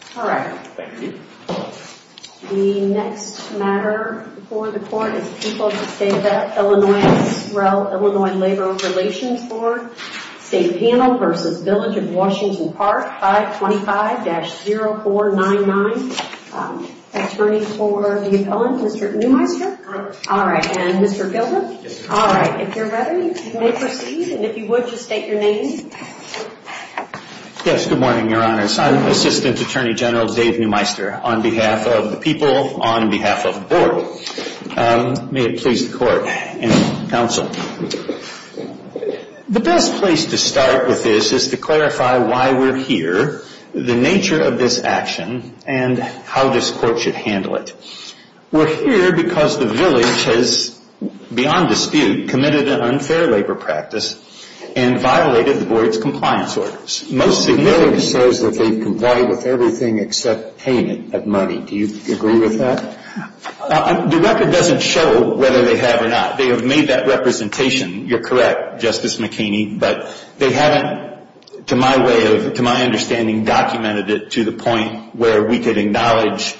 525-0499. Attorney for the villain, Mr. Neumeister. All right. And Mr. Gilder. All right. If you're ready, you may proceed. And if you would, just state your name. Yes, good morning, Your Honors. I'm Assistant Attorney General of the Illinois Labor Relations Bd. General Dave Neumeister, on behalf of the people, on behalf of the Board. May it please the Court and the Council. The best place to start with this is to clarify why we're here, the nature of this action, and how this Court should handle it. We're here because the Village has, beyond dispute, committed an unfair labor practice and violated the Village's compliance orders. The Village says that they've complied with everything except payment of money. Do you agree with that? The record doesn't show whether they have or not. They have made that representation. You're correct, Justice McKinney, but they haven't, to my way of, to my understanding, documented it to the point where we could acknowledge,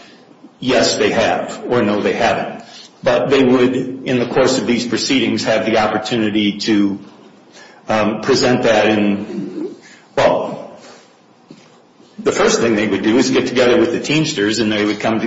yes, they have, or no, they haven't. But they would, in the course of these proceedings, have the opportunity to present that, and well, the first thing they would do is get together with the Teamsters, and they would come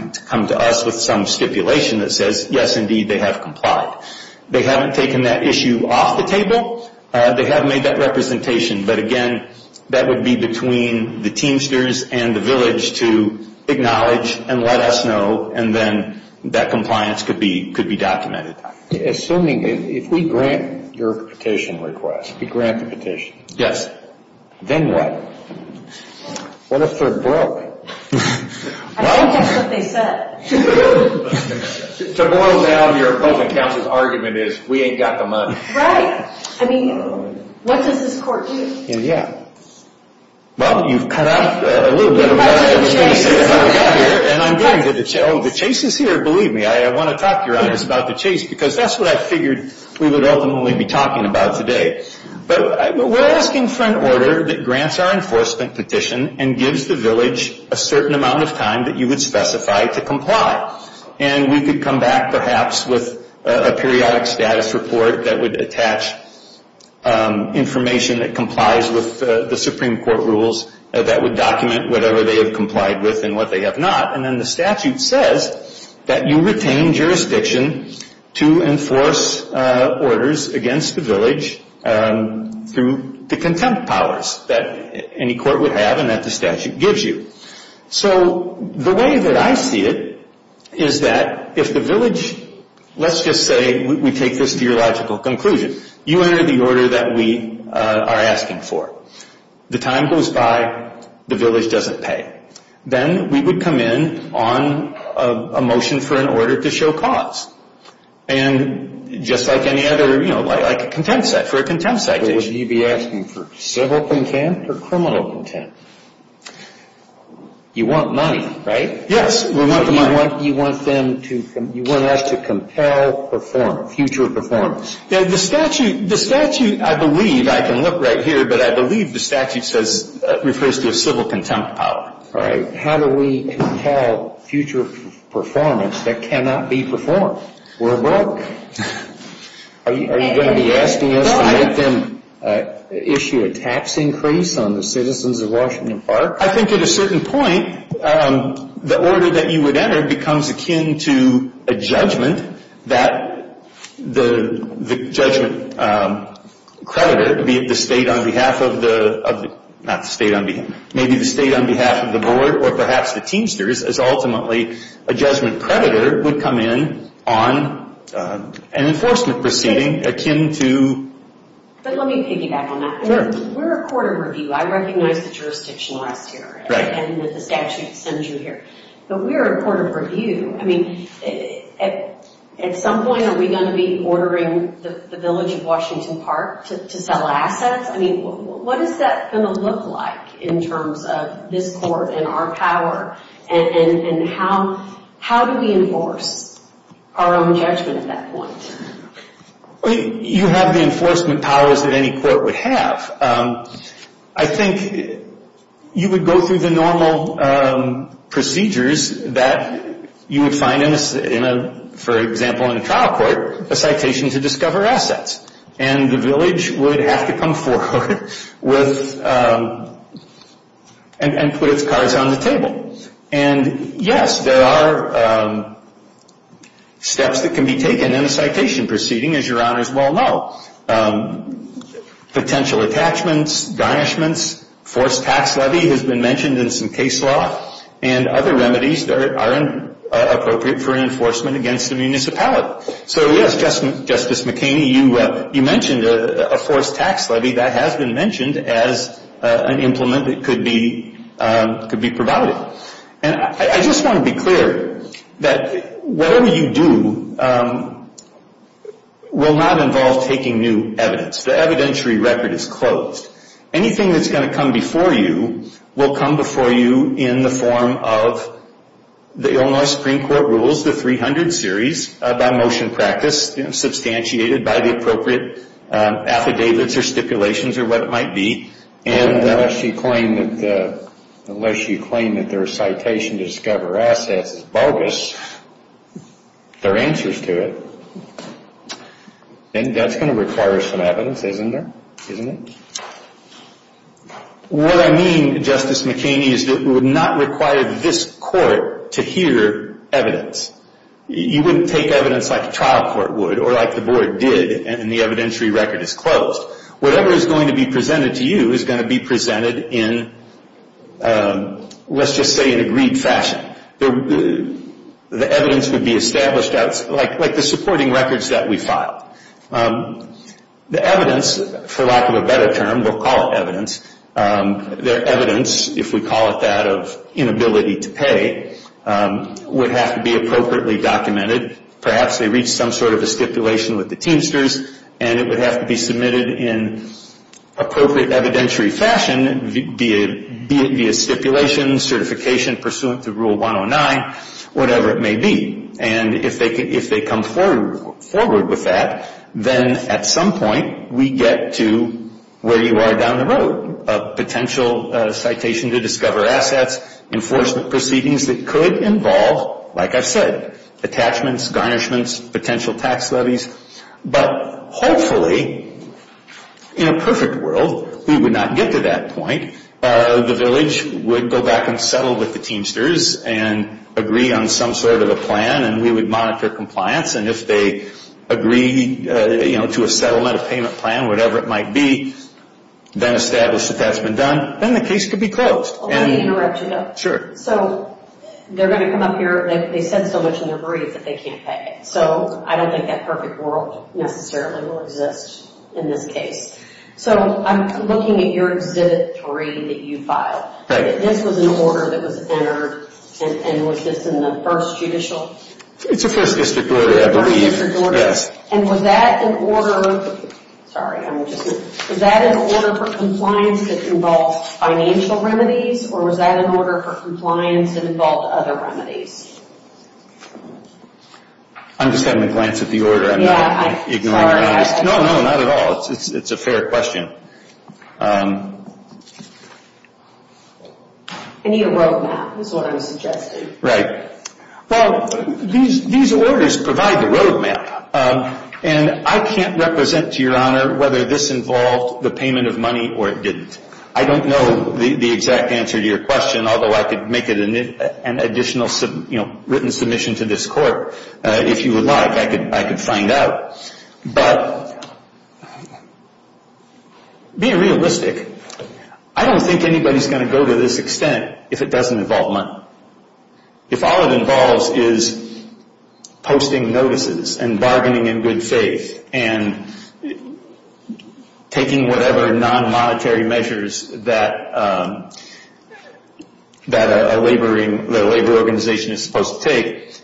to us with some stipulation that says, yes, indeed, they have complied. They haven't taken that issue off the table. They have made that representation, but again, that would be between the Teamsters and the Village to acknowledge and let us know, and then that compliance could be documented. Assuming, if we grant your petition request, if we grant the petition. Yes. Then what? What if they're broke? I think that's what they said. To boil down your opposing counsel's argument is, we ain't got the money. Right. I mean, what does this court do? Yeah. Well, you've cut off a little bit of that. And I'm getting to the chase. Oh, the chase is here, believe me. I want to talk to your audience about the chase, because that's what I figured we would ultimately be talking about today. But we're asking for an order that grants our enforcement petition and gives the Village a certain amount of time that you would specify to comply. And we could come back, perhaps, with a periodic status report that would attach information that they have complied with and what they have not. And then the statute says that you retain jurisdiction to enforce orders against the Village through the contempt powers that any court would have and that the statute gives you. So the way that I see it is that if the Village, let's just say we take this to your logical conclusion, you enter the order that we are asking for. The time goes by, the Village doesn't pay. Then we would come in on a motion for an order to show cause. And just like any other, you know, like a contempt set, for a contempt citation. Would you be asking for civil contempt or criminal contempt? You want money, right? Yes, we want the money. You want us to compel performance, future performance. Yeah, the statute, I believe, I can look right here, but I believe the statute says, refers to a civil contempt power. All right. How do we compel future performance that cannot be performed? We're broke. Are you going to be asking us to make them issue a tax increase on the citizens of Washington Park? I think at a certain point, the order that you would enter becomes akin to a judgment that the judgment creditor, be it the state on behalf of the, not the state on behalf, maybe the state on behalf of the Board or perhaps the Teamsters, as ultimately a judgment creditor would come in on an enforcement proceeding akin to... But let me piggyback on that. We're a court of review. I recognize the jurisdiction last year and that the statute sends you here. But we're a court of review. I mean, at some point, are we going to be ordering the village of Washington Park to sell assets? I mean, what is that going to look like in terms of this court and our power? And how do we enforce our own judgment at that point? You have the enforcement powers that any court would have. I think you would go through the normal procedures that you would find, for example, in a trial court, a citation to discover assets. And the village would have to come forward and put its cards on the table. And yes, there are steps that can be taken in a citation proceeding, as your honors well know. Potential attachments, garnishments, forced tax levy has been mentioned in some case law, and other remedies that are appropriate for enforcement against the municipality. So yes, Justice McKinney, you mentioned a forced tax levy that has been mentioned as an implement that could be provided. And I just want to be clear that whatever you do will not involve taking new evidence. The evidentiary record is closed. Anything that's going to come before you will come before you in the form of the Illinois Supreme Court rules, the 300 series by motion practice, substantiated by the appropriate affidavits or stipulations or what it might be. And unless you claim that their citation to discover assets is bogus, there are answers to it. And that's going to require some evidence, isn't there? Isn't it? What I mean, Justice McKinney, is that it would not require this court to hear evidence. You wouldn't take evidence like a trial court would, or like the board did, and the board did. Whatever is going to be presented to you is going to be presented in, let's just say, an agreed fashion. The evidence would be established out, like the supporting records that we filed. The evidence, for lack of a better term, we'll call it evidence, their evidence, if we call it that, of inability to pay, would have to be appropriately documented. Perhaps they appropriate evidentiary fashion, be it via stipulation, certification pursuant to Rule 109, whatever it may be. And if they come forward with that, then at some point we get to where you are down the road, a potential citation to discover assets, enforcement proceedings that could involve, like I've said, attachments, garnishments, potential tax levies. But hopefully, in a perfect world, we would not get to that point. The village would go back and settle with the Teamsters and agree on some sort of a plan, and we would monitor compliance. And if they agree to a settlement, a payment plan, whatever it might be, then establish that that's been done, then the case could be closed. Let me interrupt you, though. Sure. So, they're going to come up here, they said so much in their brief that they can't pay. So, I don't think that perfect world necessarily will exist in this case. So, I'm looking at your Exhibit 3 that you filed. Right. This was an order that was entered, and was this in the first judicial? It's the first district order, I believe. First district order. Yes. And was that an order, sorry, I'm just, was that an order for compliance that involved financial remedies, or was that an order for compliance that involved other remedies? I'm just having a glance at the order. Yeah, I'm sorry. No, no, not at all. It's a fair question. I need a road map, is what I'm suggesting. Right. Well, these orders provide the road map. And I can't represent, to your honor, whether this involved the payment of money or it didn't. I don't know the exact answer to your question, although I could make it an additional, you know, written submission to this court, if you would like. I could find out. But, being realistic, I don't think anybody's going to go to this extent if it doesn't involve money. If all it involves is posting notices and bargaining in good faith and taking whatever non-monetary measures that a labor organization is supposed to take,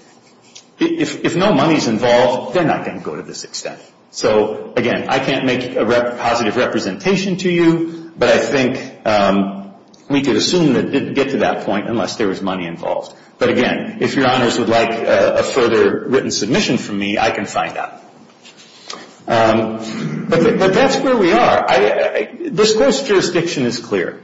if no money's involved, then I can't go to this extent. So, again, I can't make a positive representation to you, but I think we could assume it didn't get to that point unless there was money involved. But, again, if your honors would like a further written submission from me, I can find out. But that's where we are. This court's jurisdiction is clear.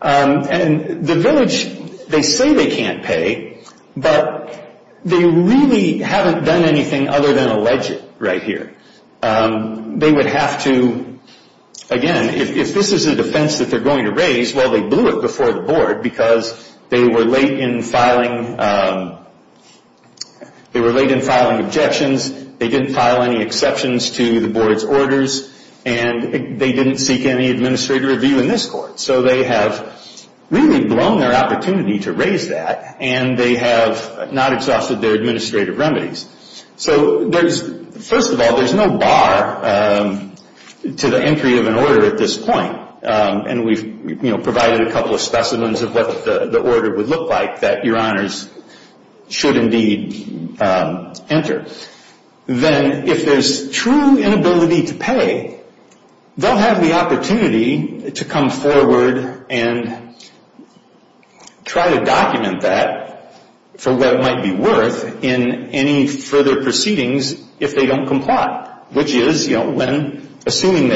And the village, they say they can't pay, but they really haven't done anything other than allege it right here. They would have to, again, if this is a defense that they're going to raise, well, they blew it before the board because they were late in filing objections, they didn't file any exceptions to the board's orders, and they didn't seek any administrative review in this court. So they have really blown their opportunity to raise that, and they have not exhausted their administrative remedies. So, first of all, there's no bar to the entry of an order at this point. And we've provided a couple of specimens of what the order would look like that your honors should indeed enter. Then if there's true inability to pay, they'll have the opportunity to come forward and try to document that for what it might be worth in any further proceedings if they don't comply, which is assuming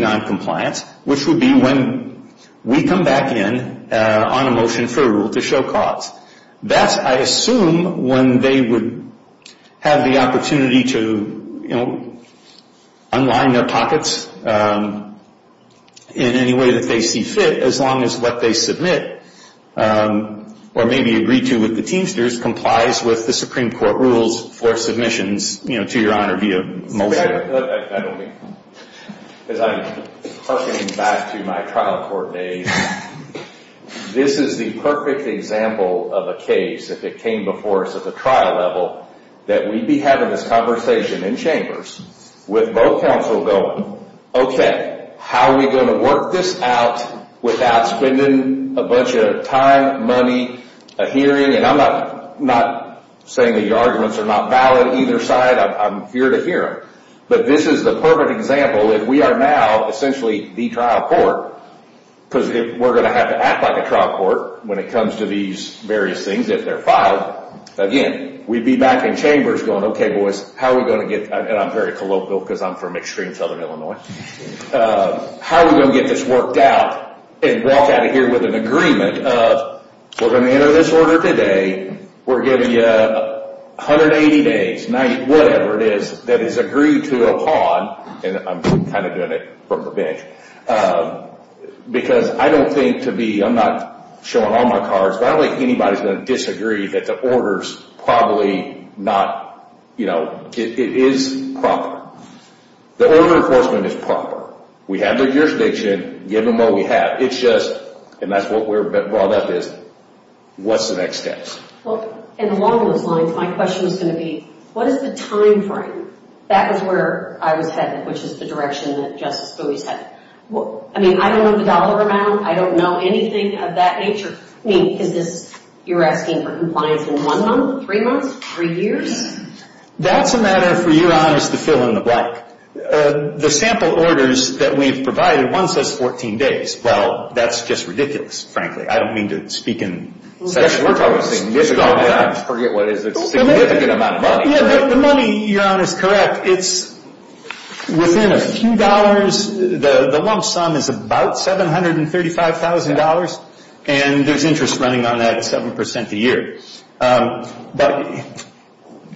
noncompliance, which would be when we come back in on a motion for a rule to show cause. That, I assume, when they would have the opportunity to unwind their pockets in any way that they see fit, as long as what they submit or maybe agree to with the Teamsters complies with the Supreme Court rules for submissions, you know, to your honor via motion. I don't mean that, because I'm harkening back to my trial court days. This is the perfect example of a case, if it came before us at the trial level, that we'd be having this conversation in chambers with both counsel going, okay, how are we going to work this out without spending a bunch of time, money, a hearing? I'm not saying the arguments are not valid either side. I'm here to hear them. But this is the perfect example that we are now essentially the trial court, because we're going to have to act like a trial court when it comes to these various things, if they're filed. Again, we'd be back in chambers going, okay, boys, how are we going to get, and I'm very colloquial because I'm from extreme southern Illinois, how are we going to get this worked out and walk out of here with an agreement of, we're going to enter this order today, we're giving you 180 days, 90, whatever it is, that is agreed to upon, and I'm kind of doing it from the bench, because I don't think to be, I'm not showing all my cards, but I don't think anybody's going to disagree that the order's probably not, you know, it is proper. The order enforcement is proper. We have the jurisdiction, give them what we have. It's just, and that's what we're brought up is, what's the next steps? Well, and along those lines, my question was going to be, what is the timeframe? That was where I was headed, which is the direction that Justice Bowie's headed. I mean, I don't know the dollar amount. I don't know anything of that nature. I mean, is this, you're asking for compliance in one month, three months, three years? That's a matter for your honors to fill in the blank. The sample orders that we've provided, one says 14 days. Well, that's just ridiculous, frankly. I don't mean to speak in – We're talking significant amounts. I forget what it is. It's a significant amount of money. Yeah, the money you're on is correct. It's within a few dollars. The lump sum is about $735,000, and there's interest running on that 7% a year. But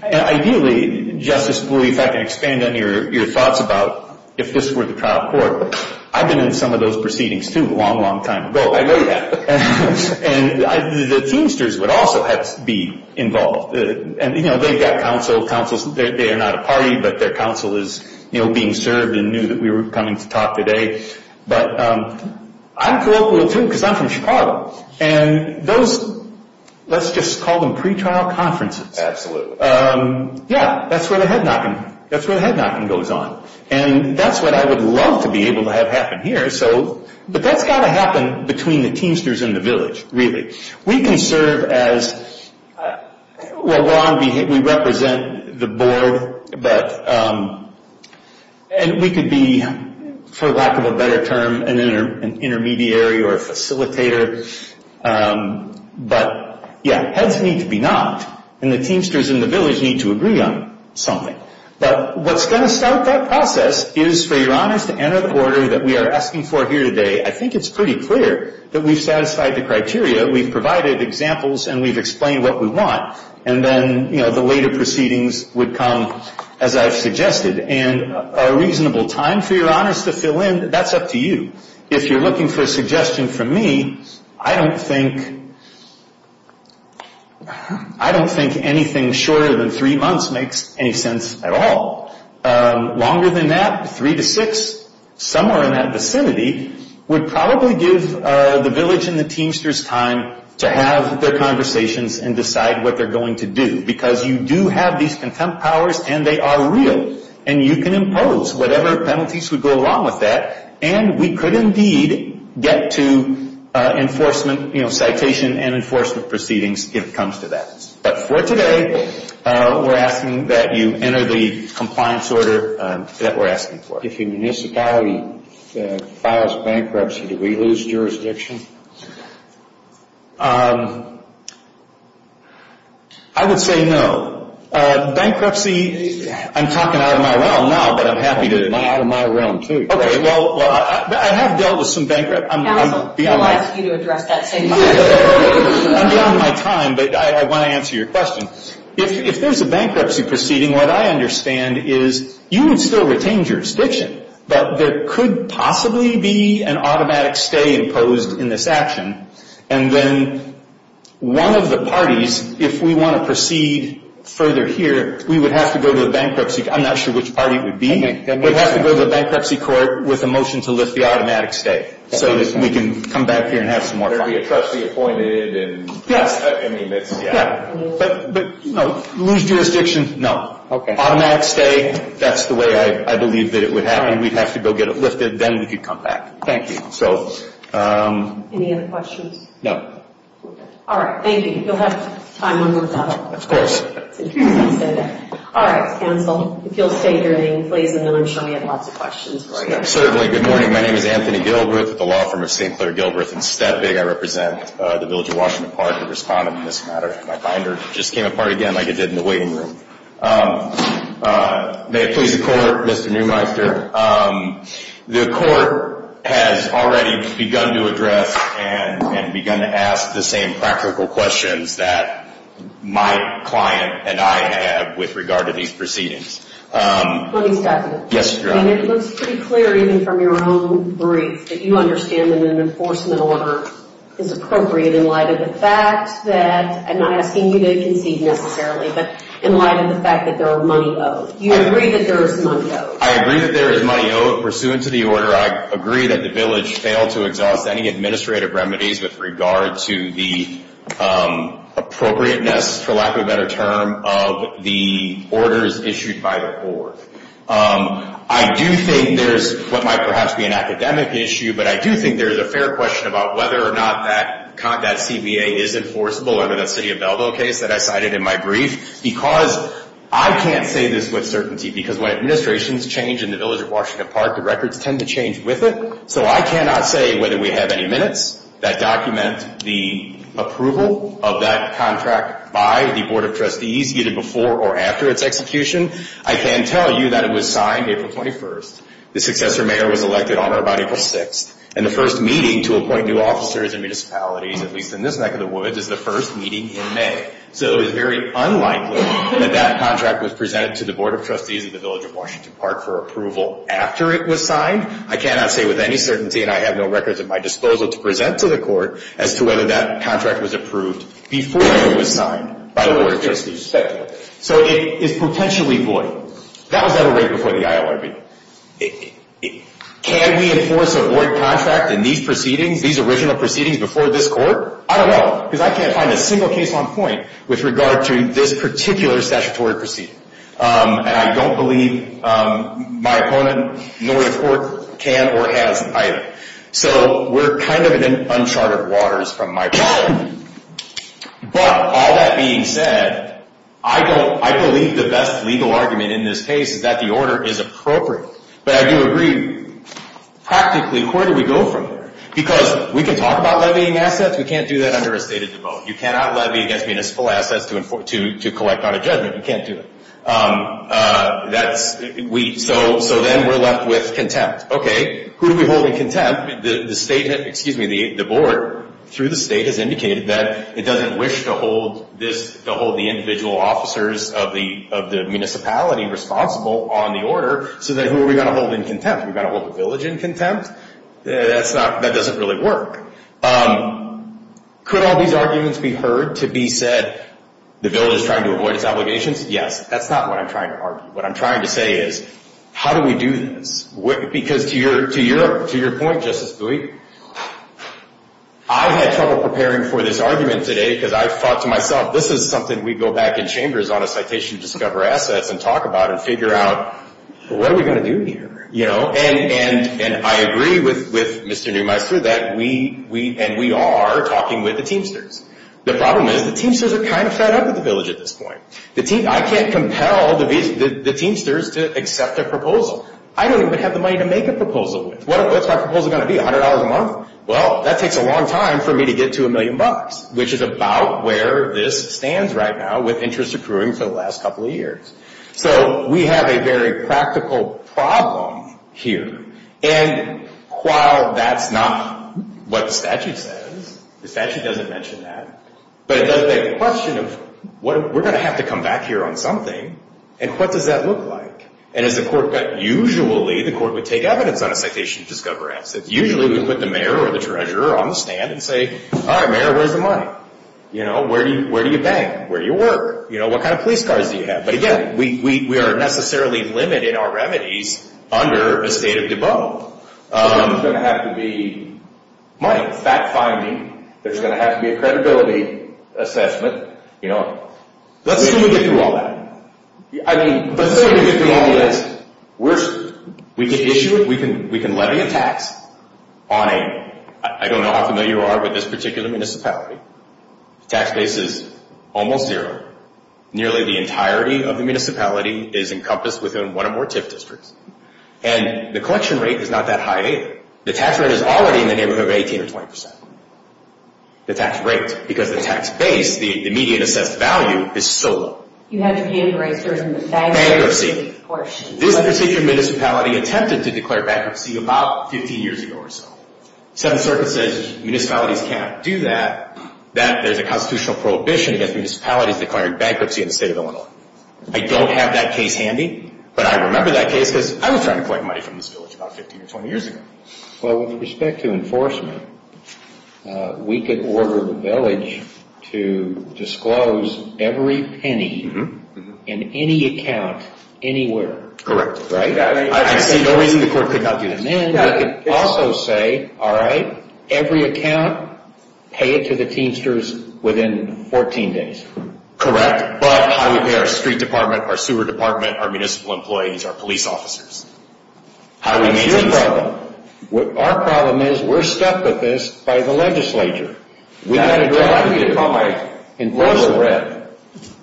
ideally, Justice Bowie, if I can expand on your thoughts about if this were the trial court, I've been in some of those proceedings, too, a long, long time ago. I know you have. And the teamsters would also have to be involved. And they've got counsel. They are not a party, but their counsel is being served and knew that we were coming to talk today. But I'm colloquial, too, because I'm from Chicago. And those – let's just call them pretrial conferences. Absolutely. Yeah, that's where the head-knocking goes on. And that's what I would love to be able to have happen here, but that's got to happen between the teamsters and the village, really. We can serve as – well, we represent the board, but – and we could be, for lack of a better term, an intermediary or a facilitator. But, yeah, heads need to be knocked, and the teamsters and the village need to agree on something. But what's going to start that process is for your honors to enter the order that we are asking for here today. I think it's pretty clear that we've satisfied the criteria. We've provided examples, and we've explained what we want. And then, you know, the later proceedings would come, as I've suggested. And a reasonable time for your honors to fill in, that's up to you. If you're looking for a suggestion from me, I don't think – I don't think anything shorter than three months makes any sense at all. Longer than that, three to six, somewhere in that vicinity, would probably give the village and the teamsters time to have their conversations and decide what they're going to do because you do have these contempt powers, and they are real, and you can impose whatever penalties would go along with that. And we could indeed get to enforcement – you know, citation and enforcement proceedings if it comes to that. But for today, we're asking that you enter the compliance order that we're asking for. If a municipality files bankruptcy, do we lose jurisdiction? I would say no. Bankruptcy – I'm talking out of my realm now, but I'm happy to – Out of my realm, too. Okay, well, I have dealt with some bankrupt – Counsel, I'll ask you to address that same question. I'm beyond my time, but I want to answer your question. If there's a bankruptcy proceeding, what I understand is you would still retain jurisdiction, but there could possibly be an automatic stay imposed in this action, and then one of the parties, if we want to proceed further here, we would have to go to the bankruptcy – I'm not sure which party it would be. We'd have to go to the bankruptcy court with a motion to lift the automatic stay, so that we can come back here and have some more fun. Would there be a trustee appointed? Yes. But lose jurisdiction – no. Automatic stay – that's the way I believe that it would happen. We'd have to go get it lifted, then we could come back. Any other questions? No. All right, thank you. You'll have time one more time. Of course. All right, counsel, if you'll stay during, please, and then I'm sure we have lots of questions for you. Certainly. Good morning. My name is Anthony Gilbreth with the law firm of St. Clair Gilbreth. It's that big. I represent the Village of Washington Park, a respondent in this matter. My binder just came apart again, like it did in the waiting room. May it please the Court, Mr. Neumeister? Sure. The Court has already begun to address and begun to ask the same practical questions that my client and I have with regard to these proceedings. Let me stop you. Yes, Your Honor. I mean, it looks pretty clear even from your own brief that you understand that an enforcement order is appropriate in light of the fact that, I'm not asking you to concede necessarily, but in light of the fact that there are money owed. You agree that there is money owed. I agree that there is money owed. Pursuant to the order, I agree that the Village failed to exhaust any administrative remedies with regard to the appropriateness, for lack of a better term, of the orders issued by the court. I do think there is what might perhaps be an academic issue, but I do think there is a fair question about whether or not that CBA is enforceable, under that City of Belleville case that I cited in my brief, because I can't say this with certainty, because when administrations change in the Village of Washington Park, the records tend to change with it. So I cannot say whether we have any minutes that document the approval of that contract by the Board of Trustees, either before or after its execution. I can tell you that it was signed April 21st. The successor mayor was elected on or about April 6th, and the first meeting to appoint new officers and municipalities, at least in this neck of the woods, is the first meeting in May. So it is very unlikely that that contract was presented to the Board of Trustees of the Village of Washington Park for approval after it was signed. I cannot say with any certainty, and I have no records at my disposal to present to the court, as to whether that contract was approved before it was signed by the Board of Trustees. So it is potentially void. That was never written before the ILRB. Can we enforce a void contract in these proceedings, these original proceedings before this court? I don't know, because I can't find a single case on point with regard to this particular statutory proceeding. And I don't believe my opponent, nor the court, can or hasn't either. So we're kind of in uncharted waters from my perspective. But all that being said, I believe the best legal argument in this case is that the order is appropriate. But I do agree, practically, where do we go from here? Because we can talk about levying assets. We can't do that under a state of devote. You cannot levy against municipal assets to collect on a judgment. You can't do that. So then we're left with contempt. Okay, who do we hold in contempt? Excuse me, the Board, through the state, has indicated that it doesn't wish to hold the individual officers of the municipality responsible on the order. So then who are we going to hold in contempt? Are we going to hold the village in contempt? That doesn't really work. Could all these arguments be heard to be said, the village is trying to avoid its obligations? Yes, that's not what I'm trying to argue. What I'm trying to say is, how do we do this? Because to your point, Justice Dewey, I had trouble preparing for this argument today because I thought to myself, this is something we go back in chambers on a citation to discover assets and talk about and figure out, what are we going to do here? And I agree with Mr. Neumeister that we are talking with the Teamsters. The problem is the Teamsters are kind of fed up with the village at this point. I can't compel the Teamsters to accept a proposal. I don't even have the money to make a proposal with. What's my proposal going to be, $100 a month? Well, that takes a long time for me to get to a million bucks, which is about where this stands right now with interest accruing for the last couple of years. So we have a very practical problem here. And while that's not what the statute says, the statute doesn't mention that, but it does make the question of, we're going to have to come back here on something, and what does that look like? And usually the court would take evidence on a citation to discover assets. Usually we would put the mayor or the treasurer on the stand and say, all right, mayor, where's the money? Where do you bank? Where do you work? What kind of police cars do you have? But again, we are necessarily limited in our remedies under a state of debaux. There's going to have to be money, fact-finding. There's going to have to be a credibility assessment. Let's assume we get through all that. Let's assume we get through all this. We can issue it. We can levy a tax on a, I don't know how familiar you are with this particular municipality. The tax base is almost zero. Nearly the entirety of the municipality is encompassed within one or more TIF districts. And the collection rate is not that high either. The tax rate is already in the neighborhood of 18 or 20 percent. The tax rate, because the tax base, the median assessed value, is so low. Bankruptcy. This particular municipality attempted to declare bankruptcy about 15 years ago or so. Seventh Circuit says municipalities cannot do that, that there's a constitutional prohibition against municipalities declaring bankruptcy in the state of Illinois. I don't have that case handy, but I remember that case because I was trying to collect money from this village about 15 or 20 years ago. Well, with respect to enforcement, we could order the village to disclose every penny in any account, anywhere. I see no reason the court could not do this. And then we could also say, all right, every account, pay it to the teamsters within 14 days. Correct. But how do we pay our street department, our sewer department, our municipal employees, our police officers? What's your problem? Our problem is, we're stuck with this by the legislature. We've got to drive it.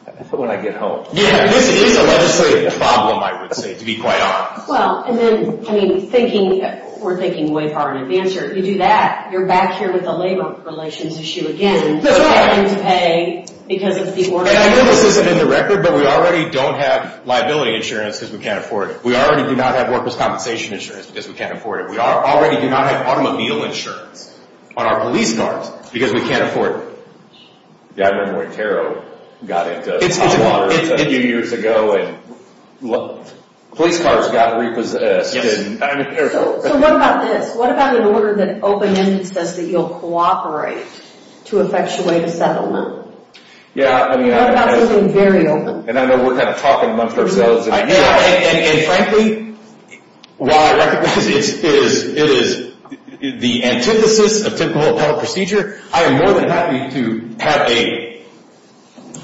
That's what I get home to. Yeah, this is a legislative problem, I would say, to be quite honest. Well, and then, I mean, thinking, we're thinking way far in advance here. If you do that, you're back here with the labor relations issue again. That's right. We have to pay because of the order. I know this isn't in the record, but we already don't have liability insurance because we can't afford it. We already do not have workers' compensation insurance because we can't afford it. We already do not have automobile insurance on our police cars because we can't afford it. Yeah, I remember when Taro got into hot water a few years ago, and police cars got repossessed. So what about this? What about an order that open-ended says that you'll cooperate to effectuate a settlement? What about something very open? And I know we're kind of talking amongst ourselves. And frankly, while I recognize it is the antithesis of typical appellate procedure, I am more than happy to have a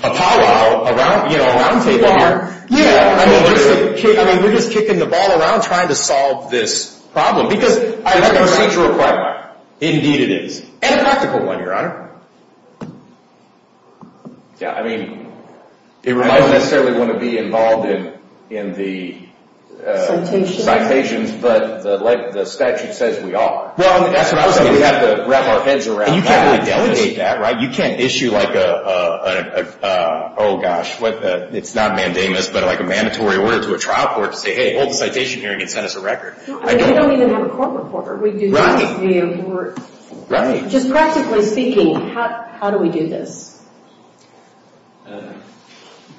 pow-wow, a round table here. Yeah, totally. I mean, we're just kicking the ball around trying to solve this problem because I have a procedure requirement. Indeed it is. And a practical one, Your Honor. Yeah, I mean, I don't necessarily want to be involved in the citations, but the statute says we are. Well, that's what I was going to say. We have to wrap our heads around that. And you can't really delegate that, right? You can't issue like a, oh gosh, it's not mandamus, but like a mandatory order to a trial court to say, hey, hold the citation hearing and send us a record. I mean, we don't even have a court reporter. Right. Just practically speaking, how do we do this?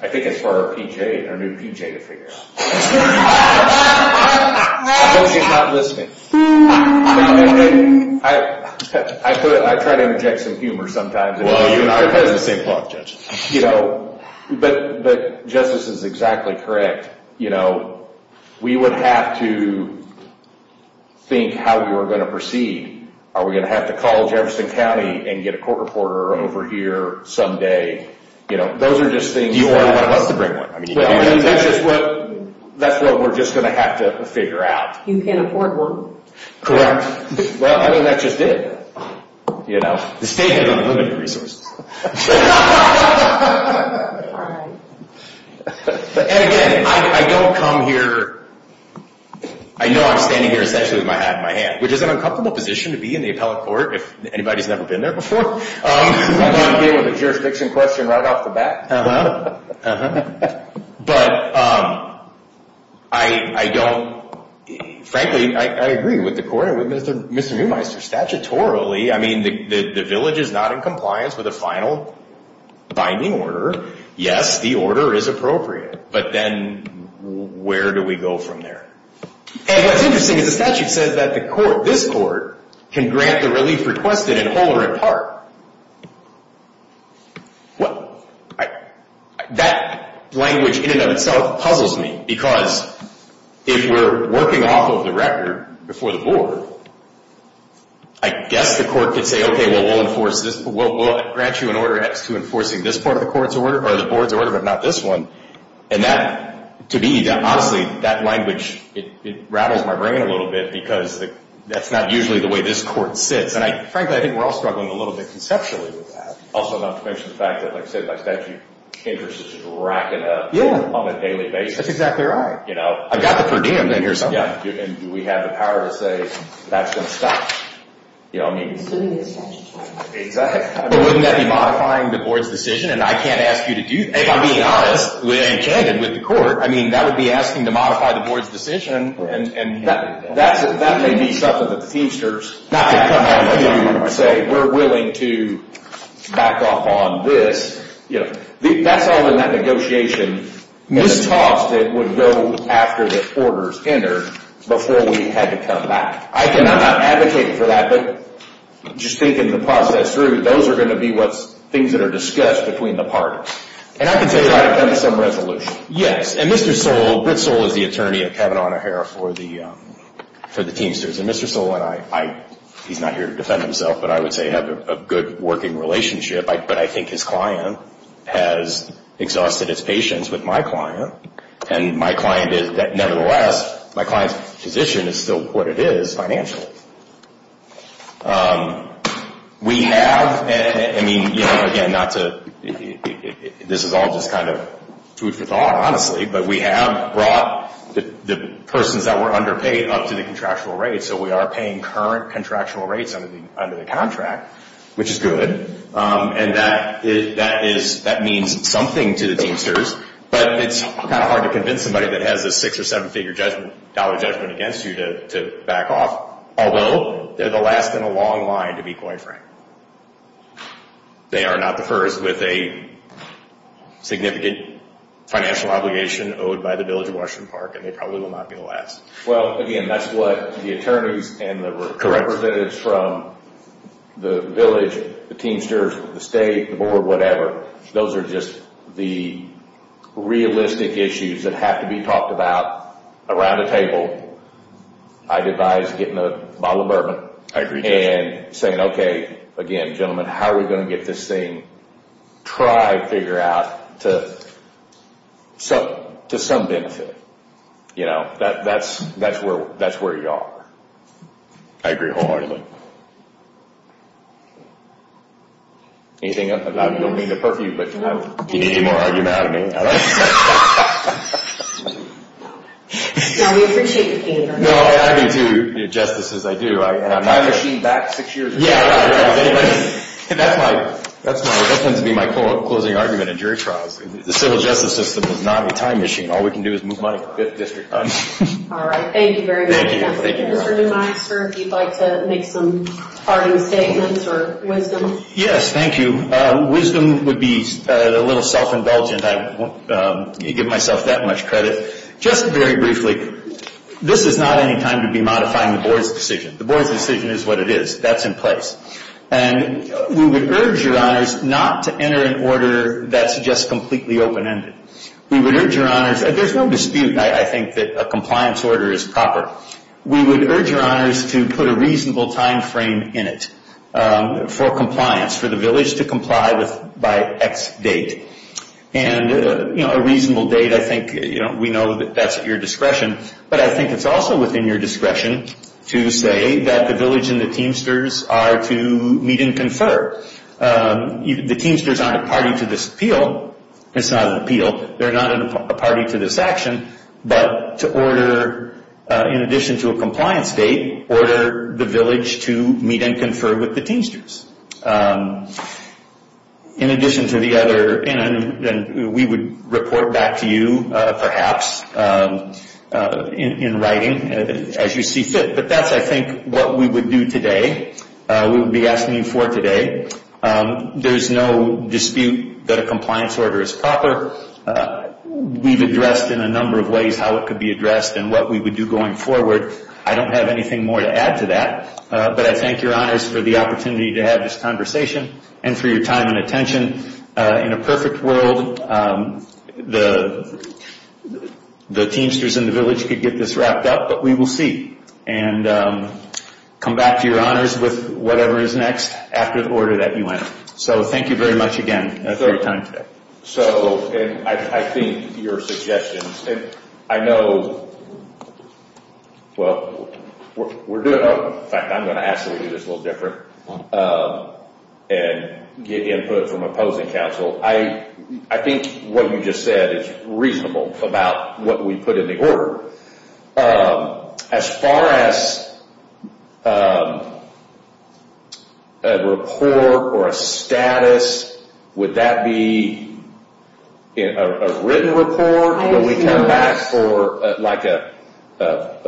I think it's for our PJ, our new PJ to figure out. I told you he's not listening. I try to inject some humor sometimes. Well, you and I are kind of the same cloth, Judge. You know, but Justice is exactly correct. You know, we would have to think how we were going to proceed. Are we going to have to call Jefferson County and get a court reporter over here someday? You know, those are just things that. Do you want one of us to bring one? That's just what we're just going to have to figure out. You can't afford one. Correct. Well, I mean, that's just it, you know. The state has unlimited resources. All right. And again, I don't come here. I know I'm standing here essentially with my hat in my hand, which is an uncomfortable position to be in the appellate court if anybody's never been there before. I'm going to deal with a jurisdiction question right off the bat. But I don't. Frankly, I agree with the court and with Mr. Muehmeister. Statutorily, I mean, the village is not in compliance with a final binding order. Yes, the order is appropriate. But then where do we go from there? And what's interesting is the statute says that the court, this court, can grant the relief requested in whole or in part. Well, that language in and of itself puzzles me because if we're working off of the record before the board, I guess the court could say, okay, well, we'll enforce this. Well, we'll grant you an order as to enforcing this part of the court's order or the board's order, but not this one. And that, to me, honestly, that language, it rattles my brain a little bit because that's not usually the way this court sits. And frankly, I think we're all struggling a little bit conceptually with that. Also, not to mention the fact that, like I said, statute interest is just racking up on a daily basis. That's exactly right. I've got the per diem in here somewhere. And do we have the power to say that's going to stop? But wouldn't that be modifying the board's decision? And I can't ask you to do that. If I'm being honest and candid with the court, I mean, that would be asking to modify the board's decision. And that may be something that the Feimsters, not to come out and say we're willing to back off on this. That's all in that negotiation. At the cost, it would go after the orders enter before we had to come back. I'm not advocating for that, but just thinking the process through, those are going to be things that are discussed between the parties. And I can tell you I've come to some resolution. Yes. And Mr. Soule, Britt Soule is the attorney at Kavanaugh and O'Hara for the Teamsters. And Mr. Soule and I, he's not here to defend himself, but I would say have a good working relationship. But I think his client has exhausted his patience with my client. And my client is, nevertheless, my client's position is still what it is financially. We have, I mean, you know, again, not to, this is all just kind of food for thought, honestly, but we have brought the persons that were underpaid up to the contractual rates. So we are paying current contractual rates under the contract, which is good. And that is, that means something to the Teamsters. But it's kind of hard to convince somebody that has a six- or seven-figure dollar judgment against you to back off, although they're the last in a long line to be co-inframed. They are not the first with a significant financial obligation owed by the Village of Washington Park, and they probably will not be the last. Well, again, that's what the attorneys and the representatives from the Village, the Teamsters, the State, the Board, whatever, those are just the realistic issues that have to be talked about around a table. I'd advise getting a bottle of bourbon and saying, okay, again, gentlemen, how are we going to get this thing? Try to figure out to some benefit. You know, that's where you are. I agree wholeheartedly. Anything else? I don't mean to perfume, but do you need any more argument out of me? No, we appreciate your pain. No, I agree, too. Justices, I do. And I'm not – A time machine back six years ago. Yeah, right, right. That's my – that tends to be my closing argument in jury trials. The civil justice system is not a time machine. All we can do is move money. All right. Thank you very much. Mr. Neumeier, sir, if you'd like to make some parting statements or wisdom. Yes, thank you. Wisdom would be a little self-indulgent. I won't give myself that much credit. Just very briefly, this is not any time to be modifying the Board's decision. The Board's decision is what it is. That's in place. And we would urge your honors not to enter an order that's just completely open-ended. We would urge your honors – there's no dispute, I think, that a compliance order is proper. We would urge your honors to put a reasonable time frame in it for compliance, for the village to comply by X date. And, you know, a reasonable date, I think, you know, we know that that's at your discretion. But I think it's also within your discretion to say that the village and the Teamsters are to meet and confer. The Teamsters aren't a party to this appeal. It's not an appeal. They're not a party to this action. But to order, in addition to a compliance date, order the village to meet and confer with the Teamsters. In addition to the other – and we would report back to you, perhaps, in writing as you see fit. But that's, I think, what we would do today. We would be asking you for today. There's no dispute that a compliance order is proper. We've addressed in a number of ways how it could be addressed and what we would do going forward. I don't have anything more to add to that. But I thank your honors for the opportunity to have this conversation and for your time and attention. In a perfect world, the Teamsters and the village could get this wrapped up, but we will see. And come back to your honors with whatever is next after the order that you want. So, thank you very much again for your time today. So, I think your suggestions – and I know – well, we're doing – in fact, I'm going to ask you to do this a little different. And get input from opposing counsel. I think what you just said is reasonable about what we put in the order. As far as a report or a status, would that be a written report? Will we come back for like a –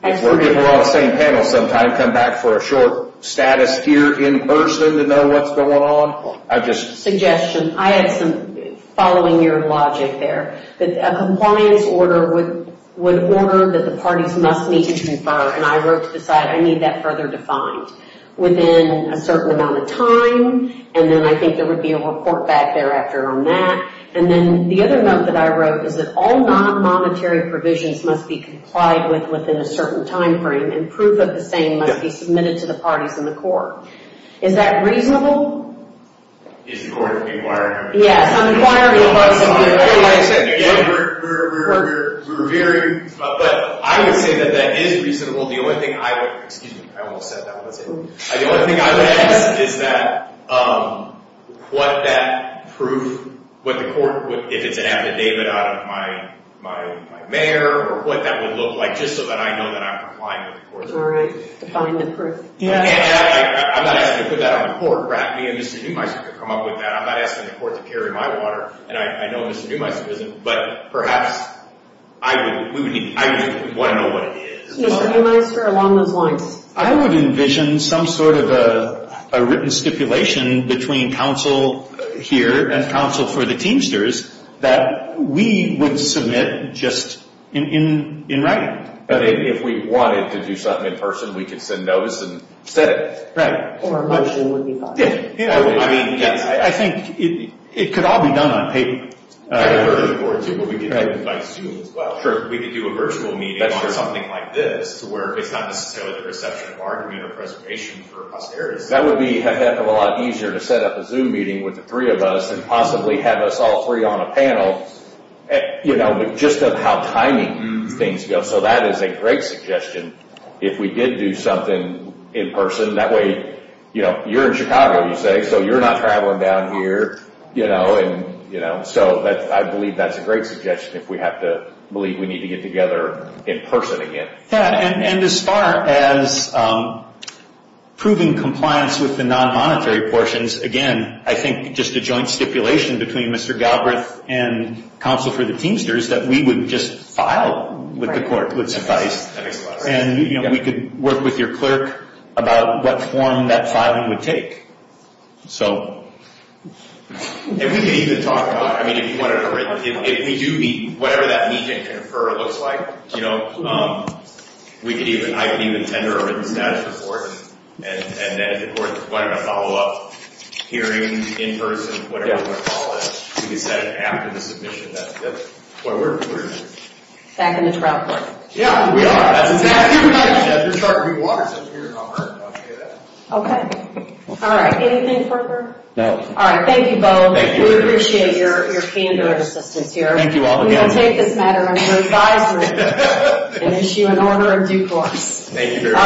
if we're all on the same panel sometime, come back for a short status here in person to know what's going on? I just – Suggestion. I had some – following your logic there. A compliance order would order that the parties must meet and confer. And I wrote to decide I need that further defined within a certain amount of time. And then I think there would be a report back thereafter on that. And then the other note that I wrote is that all non-monetary provisions must be complied with within a certain timeframe. And proof of the same must be submitted to the parties in the court. Is that reasonable? Is the court inquiring? Yes, I'm inquiring. But I would say that that is reasonable. The only thing I would – excuse me. I almost said that. The only thing I would ask is that what that proof – what the court – if it's an affidavit out of my mayor or what that would look like just so that I know that I'm complying with the court. All right. Define the proof. And I'm not asking to put that on the court. Perhaps me and Mr. Neumeister could come up with that. I'm not asking the court to carry my water. And I know Mr. Neumeister isn't, but perhaps I would want to know what it is. Mr. Neumeister, along those lines. I would envision some sort of a written stipulation between counsel here and counsel for the Teamsters that we would submit just in writing. But if we wanted to do something in person, we could send those and set it. Or a motion would be fine. Yeah. I mean, I think it could all be done on paper. Sure. Or we could do it by Zoom as well. Sure. We could do a virtual meeting on something like this where it's not necessarily the reception of argument or preservation for posterity. That would be a heck of a lot easier to set up a Zoom meeting with the three of us and possibly have us all three on a panel. Just how timing things go. So that is a great suggestion if we did do something in person. That way, you're in Chicago, you say, so you're not traveling down here. I believe that's a great suggestion if we have to believe we need to get together in person again. Yeah. And as far as proving compliance with the non-monetary portions, again, I think just a joint stipulation between Mr. Galbraith and counsel for the Teamsters that we would just file with the court would suffice. And we could work with your clerk about what form that filing would take. So. And we could even talk about, I mean, if you wanted a written, if we do meet, whatever that meet and confer looks like, you know, we could even, I could even tender a written status report. And then the court is going to follow up hearing in person, whatever you want to call it. We could set it after the submission. Back in the trial court. Yeah, we are. That's exactly right. Okay. All right. Anything further? No. All right. Thank you both. Thank you. We appreciate your candor and assistance here. Thank you all again. We will take this matter under advisement and issue an order in due course. Thank you very much.